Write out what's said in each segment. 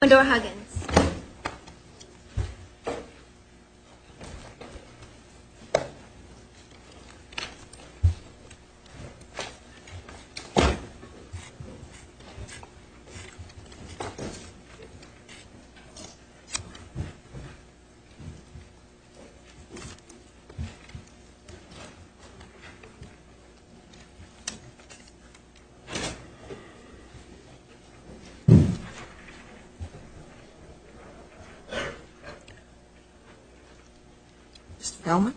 Amador-Huggins Mr. Feldman?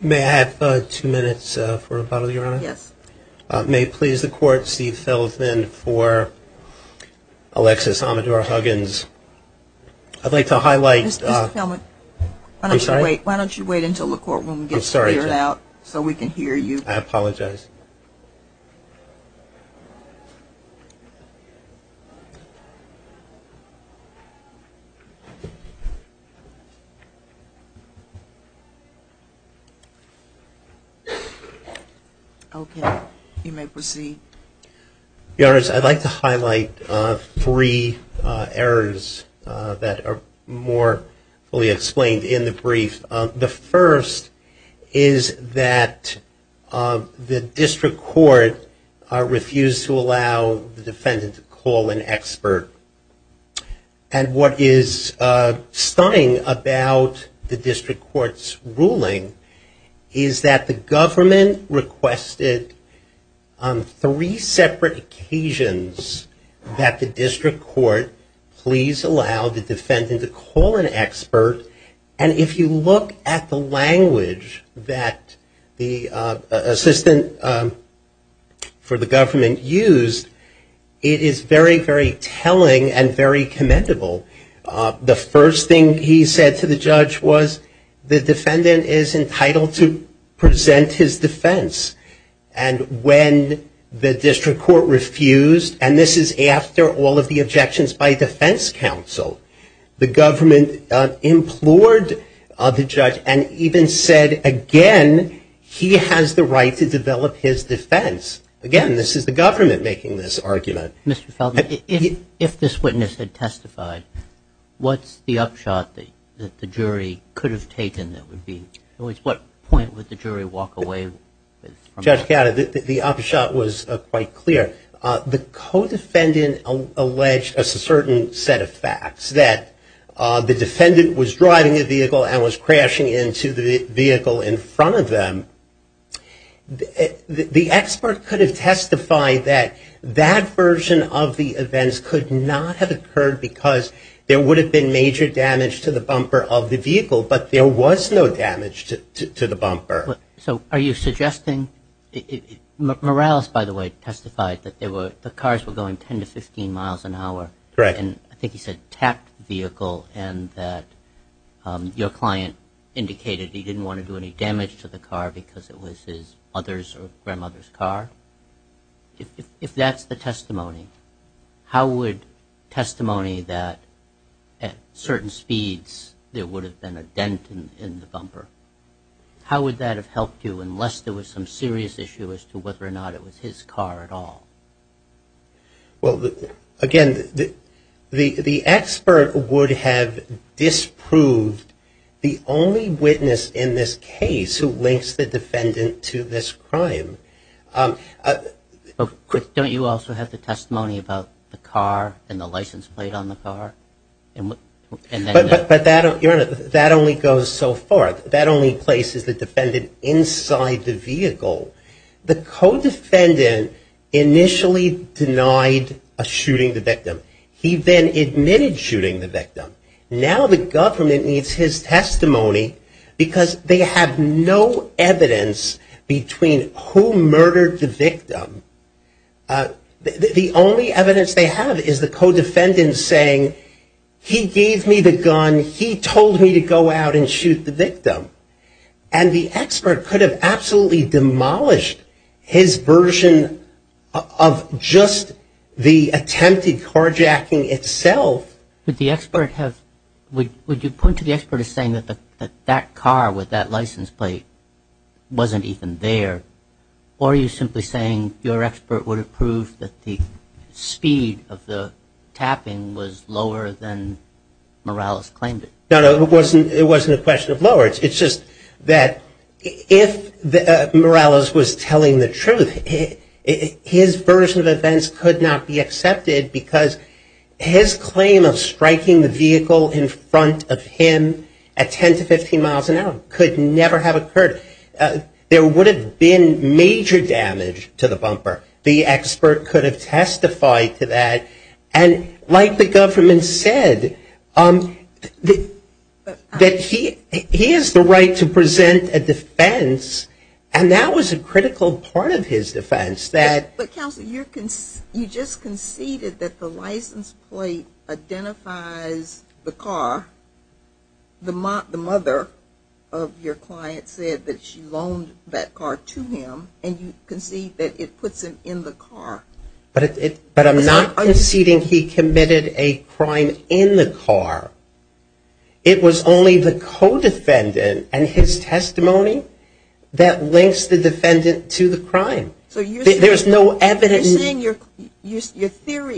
May I have two minutes for a bottle of your honor? Yes. May it please the court, Steve Feldman for Alexis Amador-Huggins. I'd like to highlight Mr. Feldman I'm sorry Why don't you wait until the courtroom gets cleared out Mr. Feldman I'd like to highlight Mr. Feldman I'd like to highlight Mr. Feldman I'd like to highlight I'd like to highlight Mr. Feldman I'd like to highlight three errors that are more being explained in the brief. The first is that the district court The first is that the district court refused to allow the defendant to call an expert. And what is stunning about the district court's ruling is that the government requested on three separate occasions that the district court please allow and if you look at the language that the assistant for the government used, it is very, very telling and very commendable. The first thing he said to the judge was the defendant is entitled to present his defense and when the district court refused and this is after all of the objections by defense counsel the government implored the judge and even said again he has the right to develop his defense. Again, this is the government making this argument. Mr. Feldman, if this witness had testified, what's the upshot that the jury could have taken? At what point would the jury walk away? Judge Cata, the upshot was quite clear. The co-defendant alleged a certain set of facts that the defendant was driving a vehicle and was crashing into the vehicle in front of them The expert could have testified that that version of the events could not have occurred because there would have been major damage to the bumper of the vehicle but there was no damage to the bumper. So are you suggesting Morales, by the way, testified that the cars were going 10 to 15 miles an hour and I think he said tapped the vehicle and that your client indicated he didn't want to do any damage to the car because it was his mother's or grandmother's car? If that's the testimony, how would testimony that at certain speeds there would have been a dent in the bumper, how would that have helped you unless there was some serious issue as to whether or not it was his car at all? Again, the expert would have disproved the only witness in this case who links the defendant to this crime Don't you also have the testimony about the car and the license plate on the car? But that only goes so far. That only places the defendant inside the vehicle. The co-defendant initially denied a shooting the victim. He then admitted shooting the victim. Now the government needs his testimony because they have no evidence between who murdered the victim. The only evidence they have is the co-defendant saying he gave me the gun, he told me to go out and shoot the victim. And the expert could have absolutely demolished his version of just the attempted carjacking itself. Would you point to the expert as saying that that car with that license plate wasn't even there? Or are you simply saying your expert would have proved that the speed of the tapping was lower than Morales claimed it? No, it wasn't a question of lower. It's just that if Morales was telling the truth, his version of events could not be accepted because his claim of striking the vehicle in front of him at 10 to 15 miles an hour could never have occurred. There would have been major damage to the bumper. The expert could have testified to that. And like the government said, that he has the right to present a defense and that was a critical part of his defense. You just conceded that the license plate identifies the car. The mother of your client said that she loaned that car to him and you concede that it puts him in the car. But I'm not conceding he committed a crime in the car. It was only the co-defendant and his testimony that links the defendant to the crime. Your theory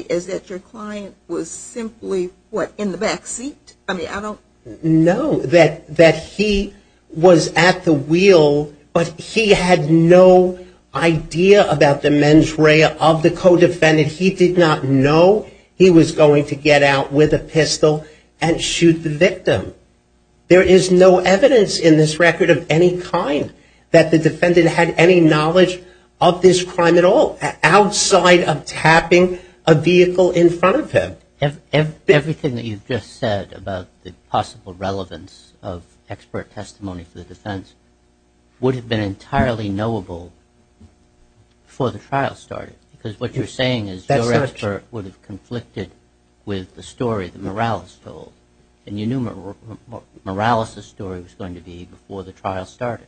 is that your client was simply in the back seat? No. That he was at the wheel but he had no idea about the mens rea of the co-defendant. He did not know he was going to get out with a pistol and shoot the victim. There is no evidence in this record of any kind that the defendant had any knowledge of this crime at all outside of tapping a vehicle in front of him. Everything that you've just said about the possible relevance of expert testimony for the defense would have been entirely knowable before the trial started because what you're saying is your expert would have conflicted with the story that Morales told and you knew Morales' story was going to be before the trial started.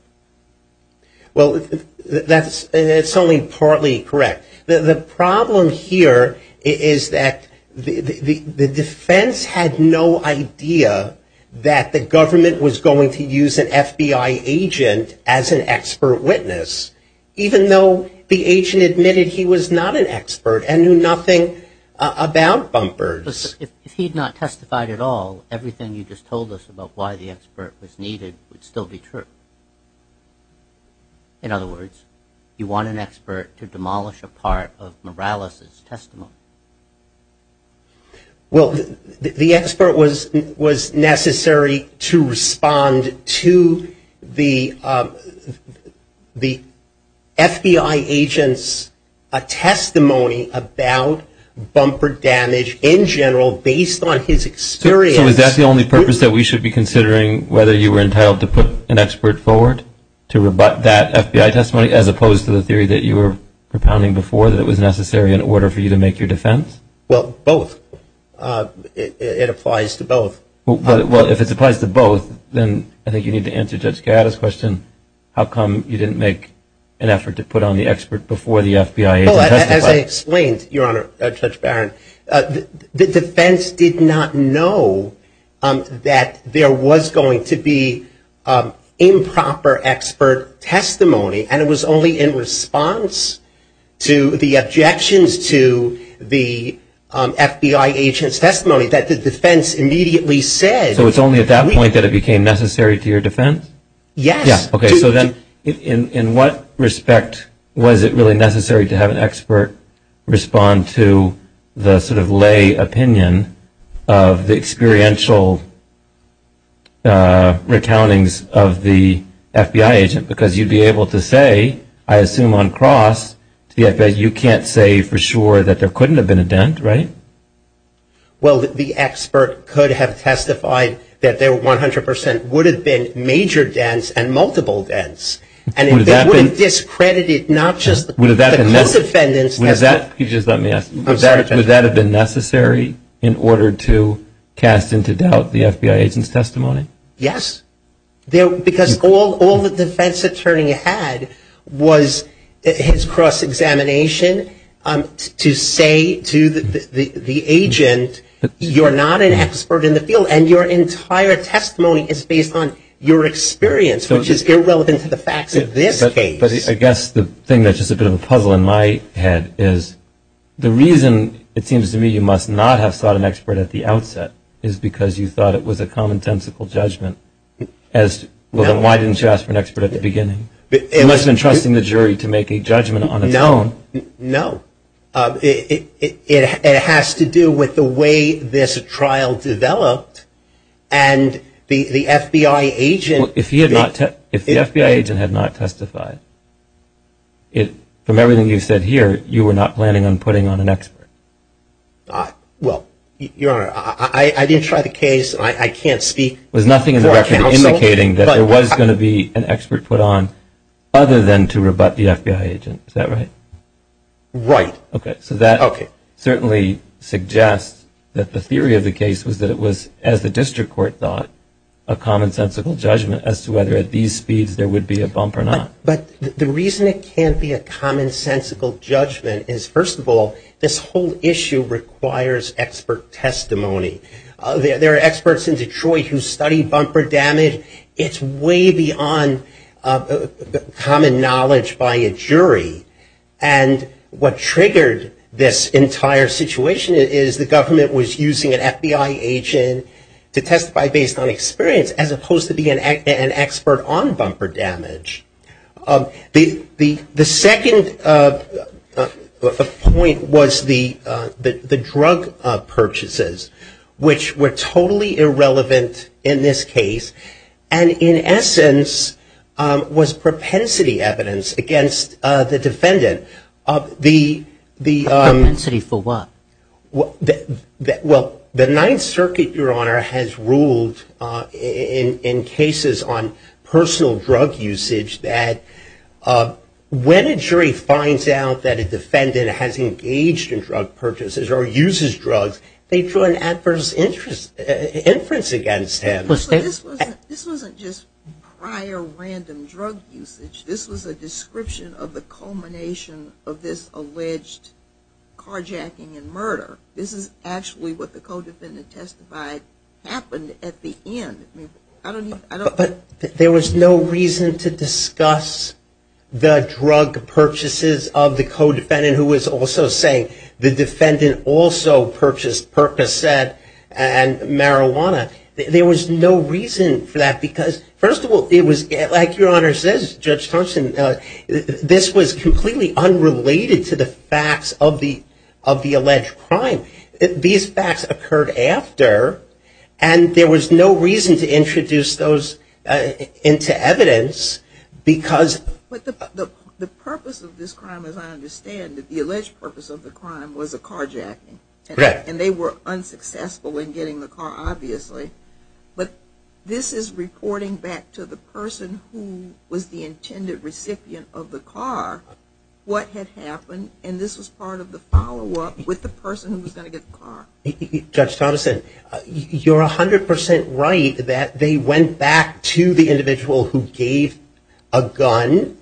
That's only partly correct. The problem here is that the defense had no idea that the government was going to use an FBI agent as an expert witness even though the agent admitted he was not an expert and knew nothing about bumpers. If he had not testified at all, everything you just told us about why the expert was needed would still be true. In other words, you want an expert to demolish a part of Morales' testimony. Well, the expert was necessary to respond to the FBI agent's testimony about bumper damage in general based on his experience. Is that the only purpose that we should be considering whether you were entitled to put an expert forward to rebut that FBI testimony as opposed to the theory that you were propounding before that it was necessary in order for you to make your defense? Well, both. It applies to both. If it applies to both, then I think you need to answer Judge Gatta's question. How come you didn't make an effort to put on the expert before the FBI agent testified? As I explained, Your Honor, Judge Barron, the defense did not know that there was going to be improper expert testimony, and it was only in response to the objections to the FBI agent's testimony that the defense immediately said So it's only at that point that it became necessary to your defense? Yes. Okay, so then in what respect was it really necessary to have an expert respond to the sort of lay opinion of the experiential recountings of the FBI agent? Because you'd be able to say, I assume on cross, to the FBI, you can't say for sure that there couldn't have been a dent, right? Well, the expert could have testified that there 100% would have been major dents and multiple dents, and it would have discredited not just the co-defendants. Would that have been necessary in order to cast into doubt the FBI agent's testimony? Yes. Because all the defense attorney had was his cross examination to say to the agent, you're not an expert in the field, and your entire testimony is based on your experience, which is irrelevant to the facts of this case. But I guess the thing that's just a bit of a puzzle in my head is, the reason it seems to me you must not have thought an expert at the outset is because you thought it was a common-sensical judgment as to, well, then why didn't you ask for an expert at the beginning? You must have been trusting the jury to make a judgment on its own. No. It has to do with the way this trial developed, and the FBI agent had not testified, from everything you've said here, you were not planning on putting on an expert. Well, Your Honor, I didn't try the case. I can't speak for a counsel. There was nothing in the record indicating that there was going to be an expert put on other than to rebut the FBI agent. Is that right? Right. Okay. So that certainly suggests that the theory of the case was that it was, as the district court thought, a common-sensical judgment as to whether at these speeds there would be a bump or not. But the reason it can't be a common-sensical judgment is, first of all, this whole issue requires expert testimony. There are experts in Detroit who study bumper damage. It's way beyond common knowledge by a jury. And what triggered this entire situation is the government was using an FBI agent to testify based on experience as opposed to being an expert on bumper damage. The second point was the drug purchases, which were totally irrelevant in this case, and in essence was propensity evidence against the defendant. Propensity for what? Well, the Ninth Circuit, Your Honor, has ruled in cases on personal drug usage that when a jury finds out that a defendant has engaged in drug purchases or uses drugs, they draw an adverse inference against him. This wasn't just prior random drug usage. This was a description of the culmination of this murder. This is actually what the co-defendant testified happened at the end. But there was no reason to discuss the drug purchases of the co-defendant who was also saying the defendant also purchased Percocet and marijuana. There was no reason for that because first of all, like Your Honor says, Judge Thompson, this was completely unrelated to the facts of the alleged crime. These facts occurred after and there was no reason to introduce those into evidence because... But the purpose of this crime as I understand it, the alleged purpose of the crime was a carjacking. And they were unsuccessful in getting the car, obviously. But this is reporting back to the person who was the intended recipient of the car what had happened. And this was part of the follow-up with the person who was going to get the car. Judge Thompson, you're 100% right that they went back to the individual who gave a gun.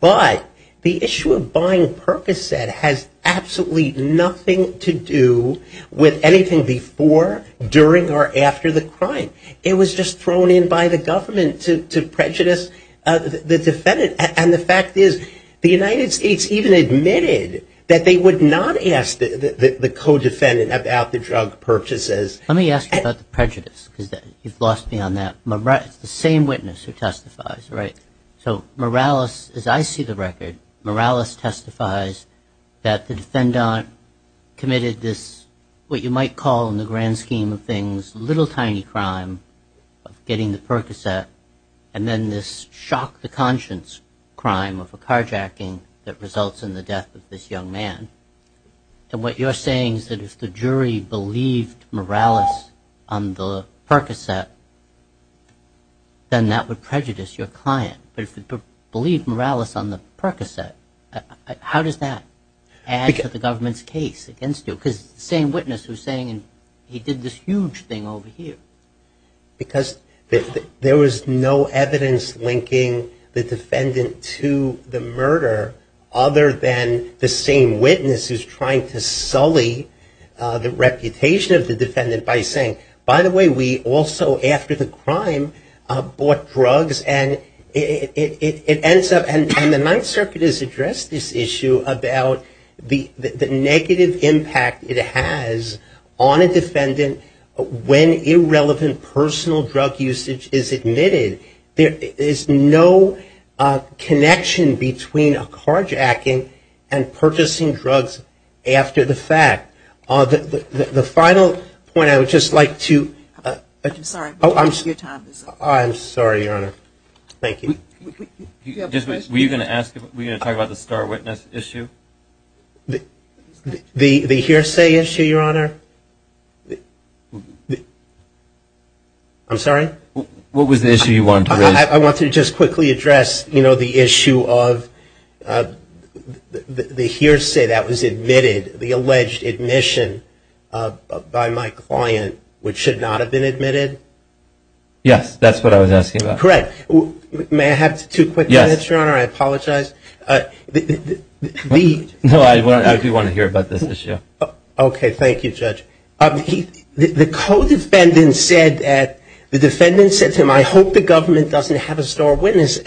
But the issue of buying Percocet has absolutely nothing to do with anything before, during, or after the crime. It was just thrown in by the government to prejudice the defendant. And the fact is, the United States even admitted that they would not ask the co-defendant about the drug purchases. Let me ask you about the prejudice because you've lost me on that. It's the same witness who testifies, right? So Morales, as I see the record, Morales testifies that the defendant committed this, what you might call in the grand scheme of things, little tiny crime of getting the Percocet and then this shock-to-conscious crime of a carjacking that results in the death of this young man. And what you're saying is that if the jury believed Morales on the Percocet, then that would prejudice your client. But if it believed Morales on the Percocet, how does that add to the government's case against you? Because it's the same witness who's saying he did this huge thing over here. Because there was no evidence linking the defendant to the murder other than the same witness who's trying to sully the reputation of the defendant by saying, by the way, we also after the crime bought drugs and it ends up, and the Ninth Circuit has addressed this issue about the negative impact it has on a defendant when irrelevant personal drug usage is admitted. There is no connection between a carjacking and purchasing drugs after the fact. The final point I would just like to I'm sorry. I'm sorry, Your Honor. Thank you. Were you going to talk about the star witness issue? The hearsay issue, Your Honor? I'm sorry? What was the issue you wanted to raise? I wanted to just quickly address the issue of the hearsay that was admitted, the alleged admission by my client which should not have been admitted. Yes, that's what I was asking about. Correct. May I have two quick minutes, Your Honor? I apologize. No, I do want to hear about this issue. Okay. Thank you, Judge. The co-defendant said that the defendant said to him, I hope the government doesn't have a star witness.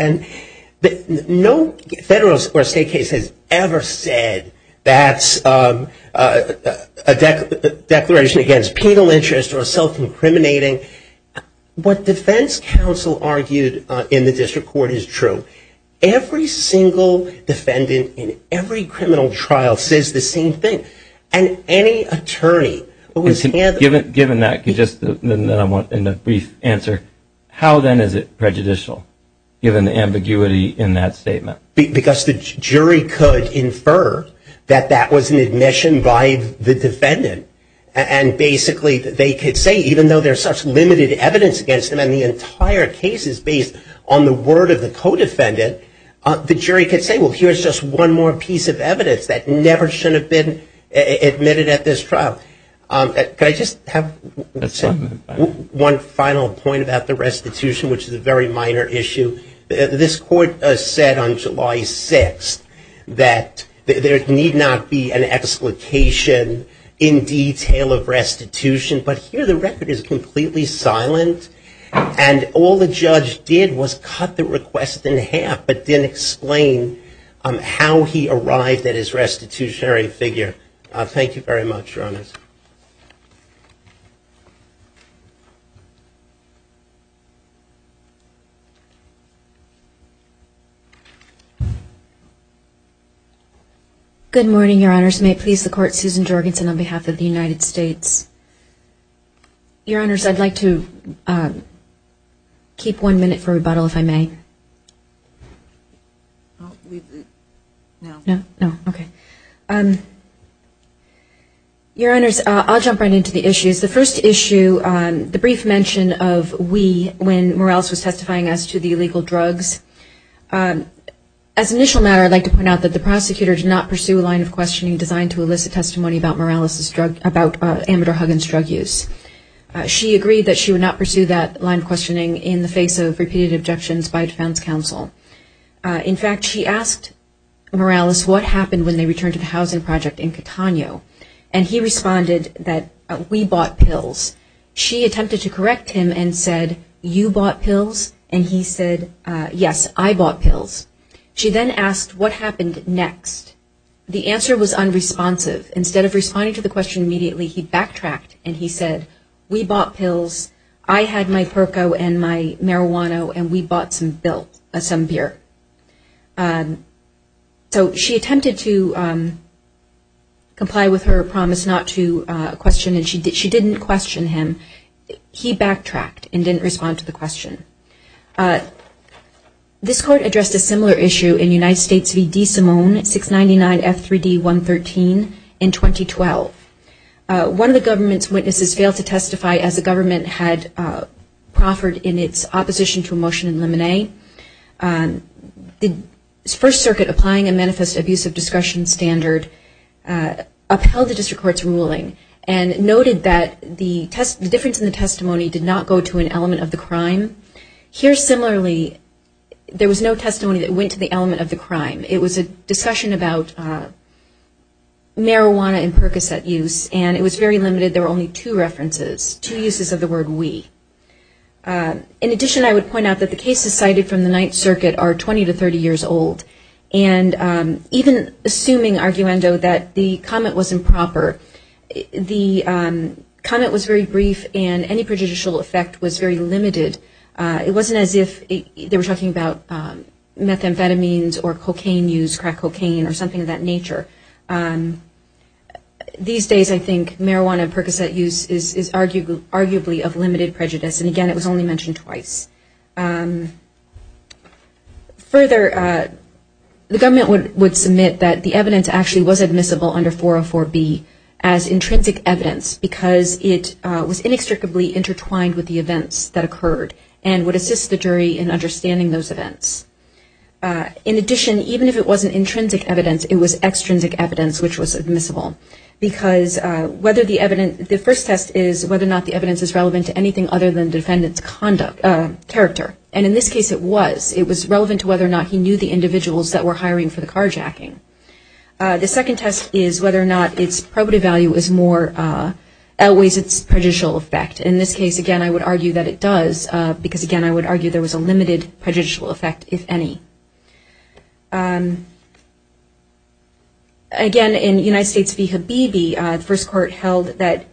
No federal or state case has ever said that a declaration against penal interest or self-incriminating. What defense counsel argued in the district court is true. Every single defendant in every criminal trial says the same thing. And any attorney who is handed... Given that, in a brief answer, how then is it prejudicial given the ambiguity in that statement? Because the jury could infer that that was an admission by the defendant and basically they could say, even though there's such limited evidence against them and the entire case is based on the word of the co-defendant, the jury could say, well, here's just one more piece of evidence that never should have been admitted at this trial. Can I just have one final point about the restitution, which is a very minor issue. This court said on July 6th that there need not be an explication in detail of restitution, but here the record is completely silent and all the judge did was cut the request in half but didn't explain how he arrived at his restitutionary figure. Thank you very much, Your Honors. Good morning, Your Honors. May it please the Court, Susan Jorgensen on behalf of the United States. Your Honors, I'd like to keep one minute for rebuttal, if I may. Your Honors, I'll jump right into the issues. The first issue, the brief mention of we when Morales was testifying as to the illegal drugs. As an initial matter, I'd like to point out that the prosecutor did not pursue a line of questioning designed to elicit testimony about Morales' drug, about Amador Huggins' drug use. She agreed that she would not pursue that line of questioning in the face of repeated objections by defense counsel. In fact, she asked Morales what happened when they returned to the housing project in Catano and he responded that we bought pills. She attempted to correct him and said, you bought pills? And he said, yes, I bought pills. She then asked, what happened next? The answer was unresponsive. Instead of responding to the question immediately, he backtracked and he said, we bought pills. I had my perco and my marijuana and we bought some beer. So, she attempted to comply with her promise not to question him. She didn't question him. He backtracked and didn't respond to the question. This court addressed a similar issue in United States v. DeSimone, 699 F3D 113 in 2012. One of the government's witnesses failed to testify as the government had proffered in its opposition to a motion in Lemonet. The First Circuit, applying a manifest abuse of discretion standard, upheld the district court's ruling and noted that the difference in the testimony did not go to an element of the crime. Here, similarly, there was no testimony that went to the element of the crime. It was a discussion about marijuana and Percocet use and it was very limited. There were only two references, two uses of the word we. In addition, I would point out that the cases cited from the Ninth Circuit are 20 to 30 years old and even assuming arguendo that the comment was improper, the comment was very brief and any prejudicial effect was very limited. It wasn't as if they were talking about methamphetamines or cocaine use, crack cocaine, or something of that nature. These days I think marijuana and Percocet use is arguably of limited prejudice and again it was only mentioned twice. Further, the government would submit that the evidence actually was admissible under 404b as intrinsic evidence because it was inextricably intertwined with the events that occurred and would assist the jury in understanding those events. In addition, even if it wasn't intrinsic evidence, it was extrinsic evidence which was admissible because the first test is whether or not the evidence is relevant to anything other than defendant's character and in this case it was. It was relevant to whether or not he knew the individuals that were hiring for the carjacking. The second test is whether or not its probative value outweighs its prejudicial effect. In this case again I would argue that it does because again I would argue there was a limited prejudicial effect, if any. Again, in United States v. Habibi, the first court held that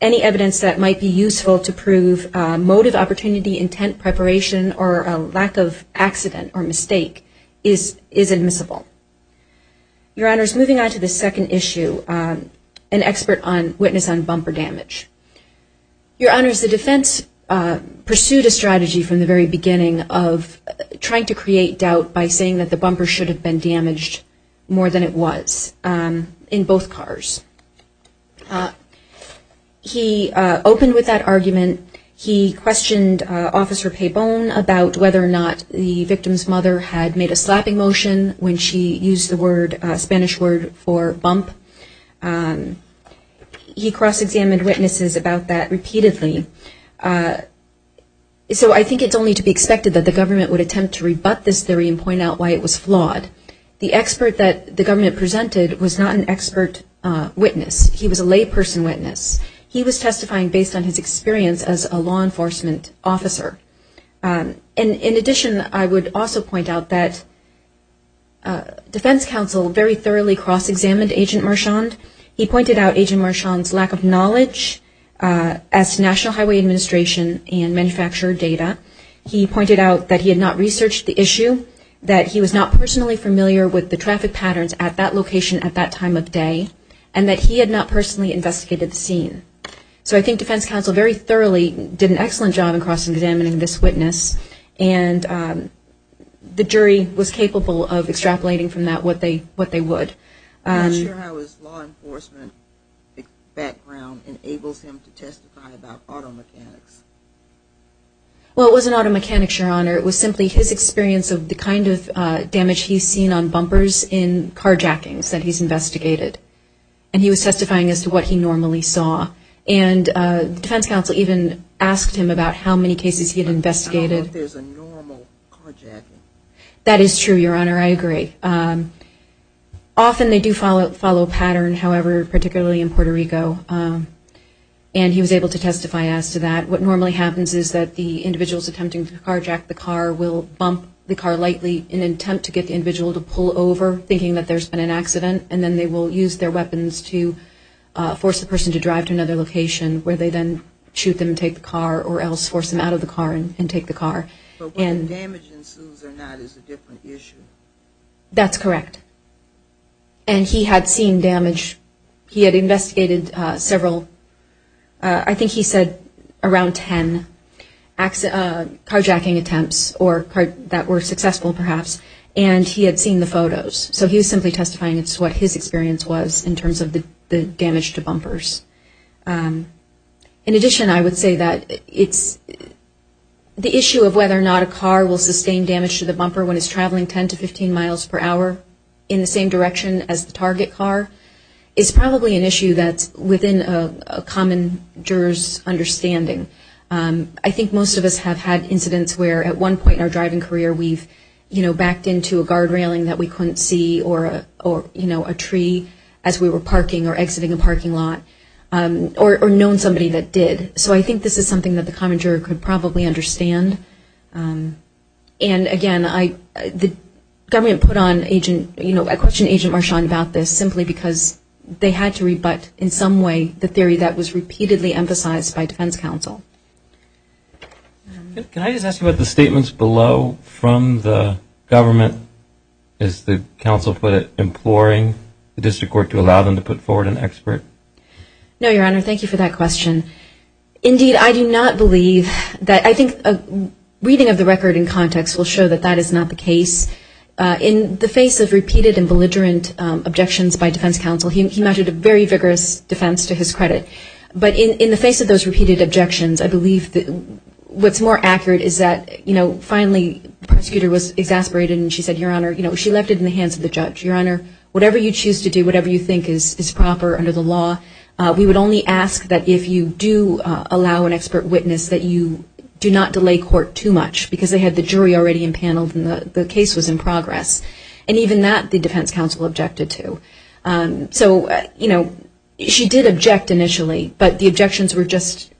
any evidence that might be useful to prove motive, opportunity, intent, preparation, or a lack of accident or mistake is admissible. Your Honors, moving on to the second issue, an expert witness on bumper damage. Your Honors, the defense pursued a strategy from the very beginning of trying to create doubt by saying that the bumper should have been damaged more than it was in both cars. He opened with that argument. He questioned Officer Pabon about whether or not the victim's mother had made a slapping motion when she used the Spanish word for bump. He cross-examined witnesses about that repeatedly. So I think it's only to be expected that the government would attempt to rebut this theory and point out why it was flawed. The expert that the government presented was not an expert witness. He was a layperson witness. He was testifying based on his experience as a law enforcement officer. In addition, I would also point out that defense counsel very thoroughly cross-examined Agent Marchand. He pointed out Agent Marchand's lack of knowledge as National Highway Administration and manufacturer data. He pointed out that he had not researched the issue, that he was not personally familiar with the traffic patterns at that location at that time of day, and that he had not personally investigated the scene. So I think defense counsel very thoroughly did an excellent job in cross-examining this witness, and the jury was capable of extrapolating from that what they would. I'm not sure how his law enforcement background enables him to testify about auto mechanics. Well, it wasn't auto mechanics, Your Honor. It was simply his experience of the kind of damage he's seen on bumpers in carjackings that he's investigated. And he was testifying as to what he normally saw. And defense counsel even asked him about how many cases he had investigated. I don't know if there's a normal carjacking. That is true, Your Honor. I agree. Often they do follow a pattern, however, particularly in Puerto Rico. And he was able to testify as to that. What normally happens is that the individuals attempting to carjack the car will bump the car lightly in an attempt to get the individual to pull over, thinking that there's been an accident, and then they will use their weapons to force the person to drive to another location where they then shoot them and take the car, or else force them out of the car and take the car. But whether damage ensues or not is a different issue. That's correct. And he had seen damage. He had investigated several. I think he said around 10 carjacking attempts that were successful, perhaps. And he had seen the photos. So he was simply testifying as to what his experience was in terms of the damage to bumpers. In addition, I would say that it's the issue of whether or not a car will sustain damage to the bumper when it's traveling 10 to 15 miles per hour in the same direction as the target car is probably an issue that's within a common juror's understanding. I think most of us have had incidents where at one point in our driving career we've backed into a guard railing that we couldn't see, or a tree as we were parking or exiting a parking lot, or I think this is something that the common juror could probably understand. And again, the government put on a question to Agent Marchand about this simply because they had to rebut in some way the theory that was repeatedly emphasized by defense counsel. Can I just ask you about the statements below from the government? Is the counsel imploring the district court to allow them to put forward an expert? No, Your Honor, thank you for that question. Indeed, I do not believe that, I think reading of the record in context will show that that is not the case. In the face of repeated and belligerent objections by defense counsel, he mentioned a very vigorous defense to his credit. But in the face of those repeated objections, I believe what's more accurate is that finally the prosecutor was exasperated and she said, Your Honor, she left it in the hands of the judge. Your Honor, whatever you choose to do, whatever you think is proper under the law, we would only ask that if you do allow an expert witness that you do not delay court too much because they had the jury already impaneled and the case was in progress. And even that, the defense counsel objected to. She did object initially, but the objections were just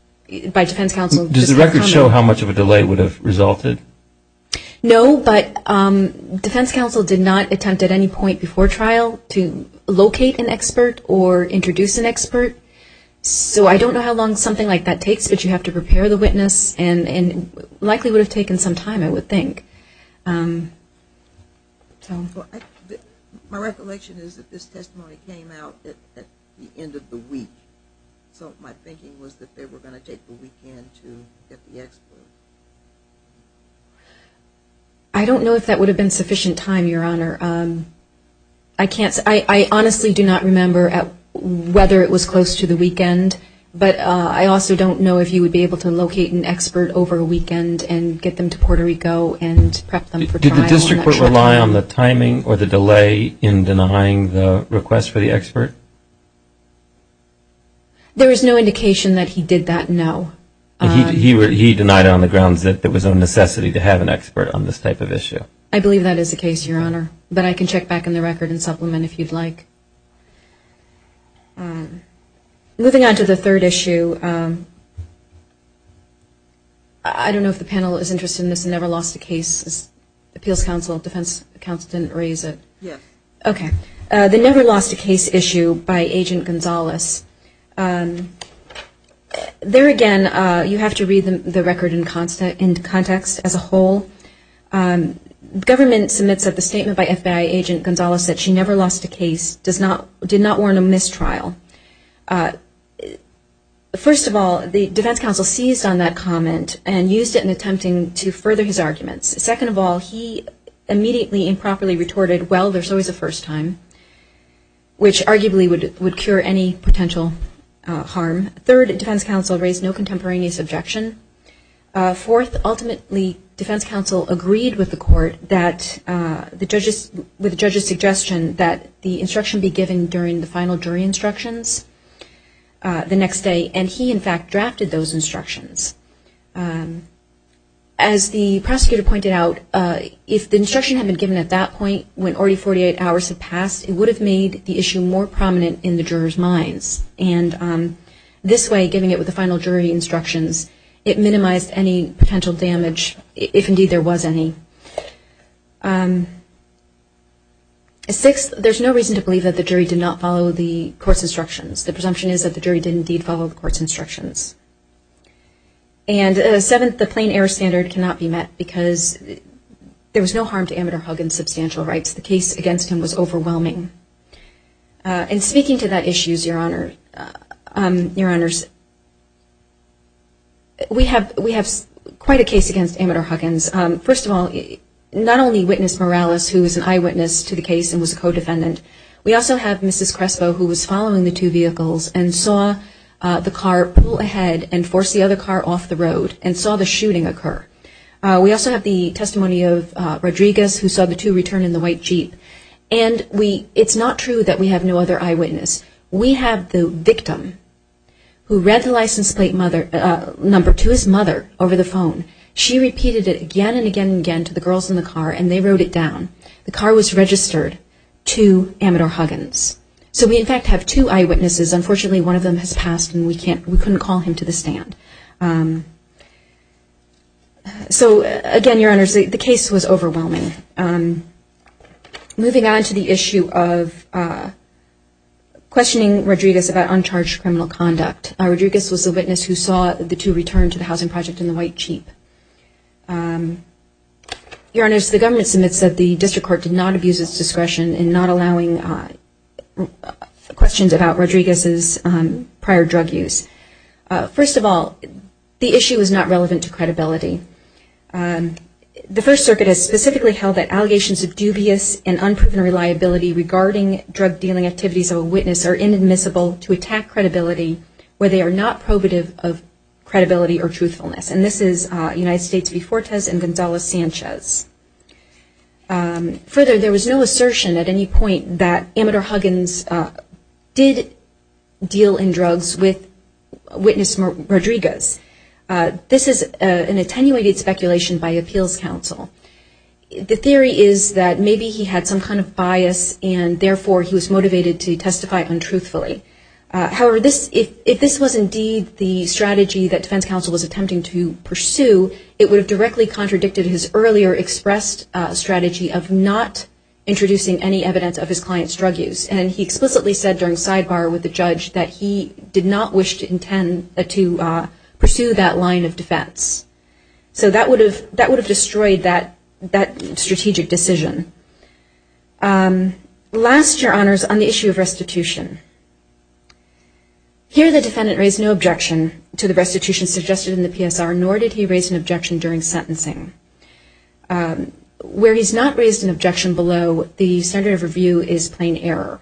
by defense counsel. Does the record show how much of a delay would have resulted? No, but defense counsel did not attempt at any point before trial to locate an expert or introduce an expert. So I don't know how long something like that takes, but you have to prepare the witness and it likely would have taken some time, I would think. My recollection is that this testimony came out at the end of the week. So my thinking was that they were going to take the weekend to get the expert. I don't know if that would have been sufficient time, Your Honor. I honestly do not remember whether it was close to the weekend, but I also don't know if you would be able to locate an expert over a weekend and get them to Puerto Rico and prep them for trial. Did the district court rely on the timing or the delay in denying the request for the expert? There is no He denied it on the grounds that there was a necessity to have an expert on this type of issue. I believe that is the case, Your Honor, but I can check back on the record and supplement if you'd like. Moving on to the third issue. I don't know if the panel is interested in this Never Lost a Case. Appeals counsel, defense counsel didn't raise it. Yes. The Never Lost a Case issue by Agent Gonzalez. There again, you have to read the record in context as a whole. Government submits that the statement by FBI agent Gonzalez that she never lost a case did not warrant a mistrial. First of all, the defense counsel seized on that comment and used it in attempting to further his arguments. Second of all, he immediately improperly retorted, well, there's always a first time, which arguably would cure any potential harm. Third, defense counsel raised no contemporaneous objection. Fourth, ultimately, defense counsel agreed with the court that the judge's suggestion that the instruction be given during the final jury instructions the next day, and he, in fact, drafted those instructions. As the prosecutor pointed out, if the instruction had been given at that it would have made the issue more prominent in the jurors' minds. This way, giving it with the final jury instructions, it minimized any potential damage, if indeed there was any. Sixth, there's no reason to believe that the jury did not follow the court's instructions. The presumption is that the jury did indeed follow the court's instructions. Seventh, the plain error standard cannot be met because there was no harm to amateur Huggins' substantial rights. The case against him was overwhelming. And speaking to that issue, Your Honor, we have quite a case against amateur Huggins. First of all, not only witness Morales, who is an eyewitness to the case and was a co-defendant, we also have Mrs. Crespo who was following the two vehicles and saw the car pull ahead and force the other car off the road and saw the shooting occur. We also have the testimony of Rodriguez who saw the two return in the white Jeep. And it's not true that we have no other eyewitness. We have the victim who read the license plate number to his mother over the phone. She repeated it again and again and again to the girls in the car and they wrote it down. The car was registered to amateur Huggins. So we in fact have two eyewitnesses. Unfortunately, one of them has passed and we couldn't call him to the stand. Again, Your Honor, the case was overwhelming. Moving on to the issue of questioning Rodriguez about uncharged criminal conduct. Rodriguez was the witness who saw the two return to the housing project in the white Jeep. Your Honor, the government submits that the District Court did not abuse its discretion in not allowing questions about Rodriguez's prior drug use. First of all, the issue is not relevant to credibility. The First Circuit has specifically held that allegations of dubious and unproven reliability regarding drug dealing activities of a witness are inadmissible to attack credibility where they are not probative of credibility or truthfulness. And this is United States v. Fortes and Gonzalez-Sanchez. Further, there was no assertion at any point that amateur Huggins did deal in drugs with witness Rodriguez. This is an attenuated speculation by appeals counsel. The theory is that maybe he had some kind of bias and therefore he was motivated to testify untruthfully. However, if this was indeed the strategy that defense counsel was attempting to pursue, it would have directly contradicted his earlier expressed strategy of not introducing any evidence of his client's drug use. And he explicitly said during sidebar with the judge that he did not wish to intend to pursue that line of defense. So that would have destroyed that strategic decision. Last, Your Honors, on the issue of restitution. Here the defendant raised no objection to the restitution suggested in the PSR, nor did he raise an objection during sentencing. Where he's not raised an objection below, the standard of review is plain error.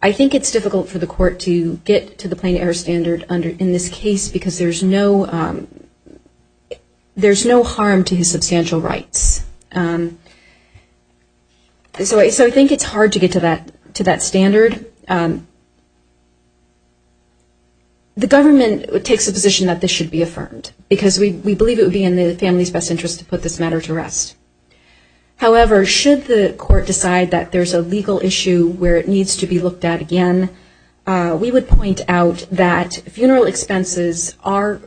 I think it's difficult for the court to get to the plain error standard in this case because there's no harm to his substantial rights. So I think it's hard to get to that standard. The government takes the position that this should be affirmed because we believe it would be in the family's best interest to put this matter to rest. However, should the court decide that there's a legal issue where it needs to be looked at again, we would point out that funeral expenses are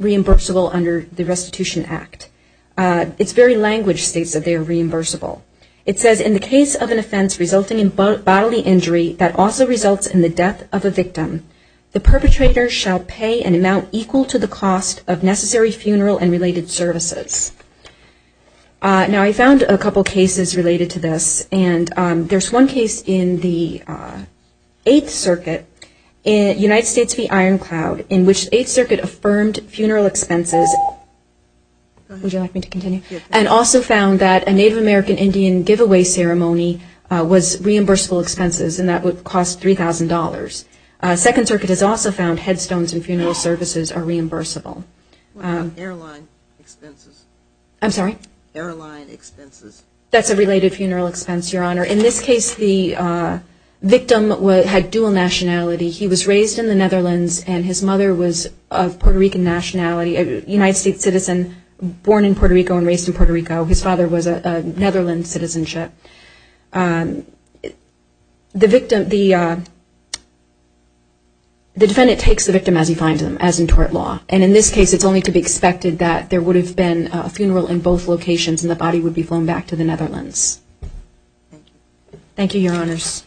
reimbursable under the Restitution Act. It's very language states that they are reimbursable. It says, in the case of an offense resulting in bodily injury that also results in the death of a victim, the perpetrator shall pay an amount equal to the cost of necessary funeral and related services. Now I found a couple cases related to this and there's one case in the Eighth Circuit in United States v. Iron Cloud in which the Eighth Circuit affirmed funeral expenses and also found that a Native American Indian giveaway ceremony was reimbursable expenses and that would cost $3,000. found headstones and funeral services are reimbursable. That's a related funeral expense, Your Honor. In this case, the victim had dual nationality. He was raised in the Netherlands and his mother was of Puerto Rican nationality, a United States citizen born in Puerto Rico and raised in Puerto Rico. His father was a Netherlands citizenship. The defendant takes the victim as he finds him, as in tort law, and in this case it's only to be expected that there would have been a funeral in both locations and the body would be flown back to the Netherlands. Thank you, Your Honors.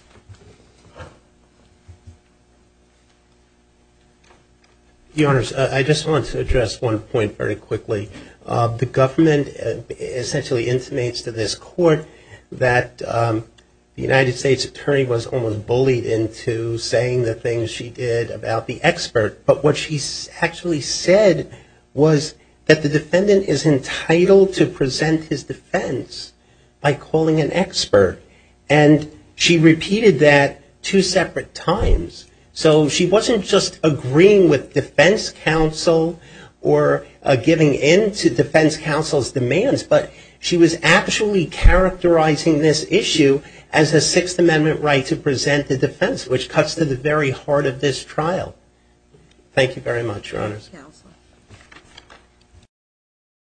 Your Honors, I just want to address one point very quickly. The government essentially intimates to this court that the United States attorney was almost bullied into saying the things she did about the expert, but what she actually said was that the defendant is entitled to present his defense by calling an expert, and she repeated that two separate times, so she wasn't just agreeing with defense counsel or giving in to defense counsel's demands, but she was actually characterizing this issue as a Sixth Amendment right to present the defense, which cuts to the very heart of this trial. Thank you very much, Your Honors.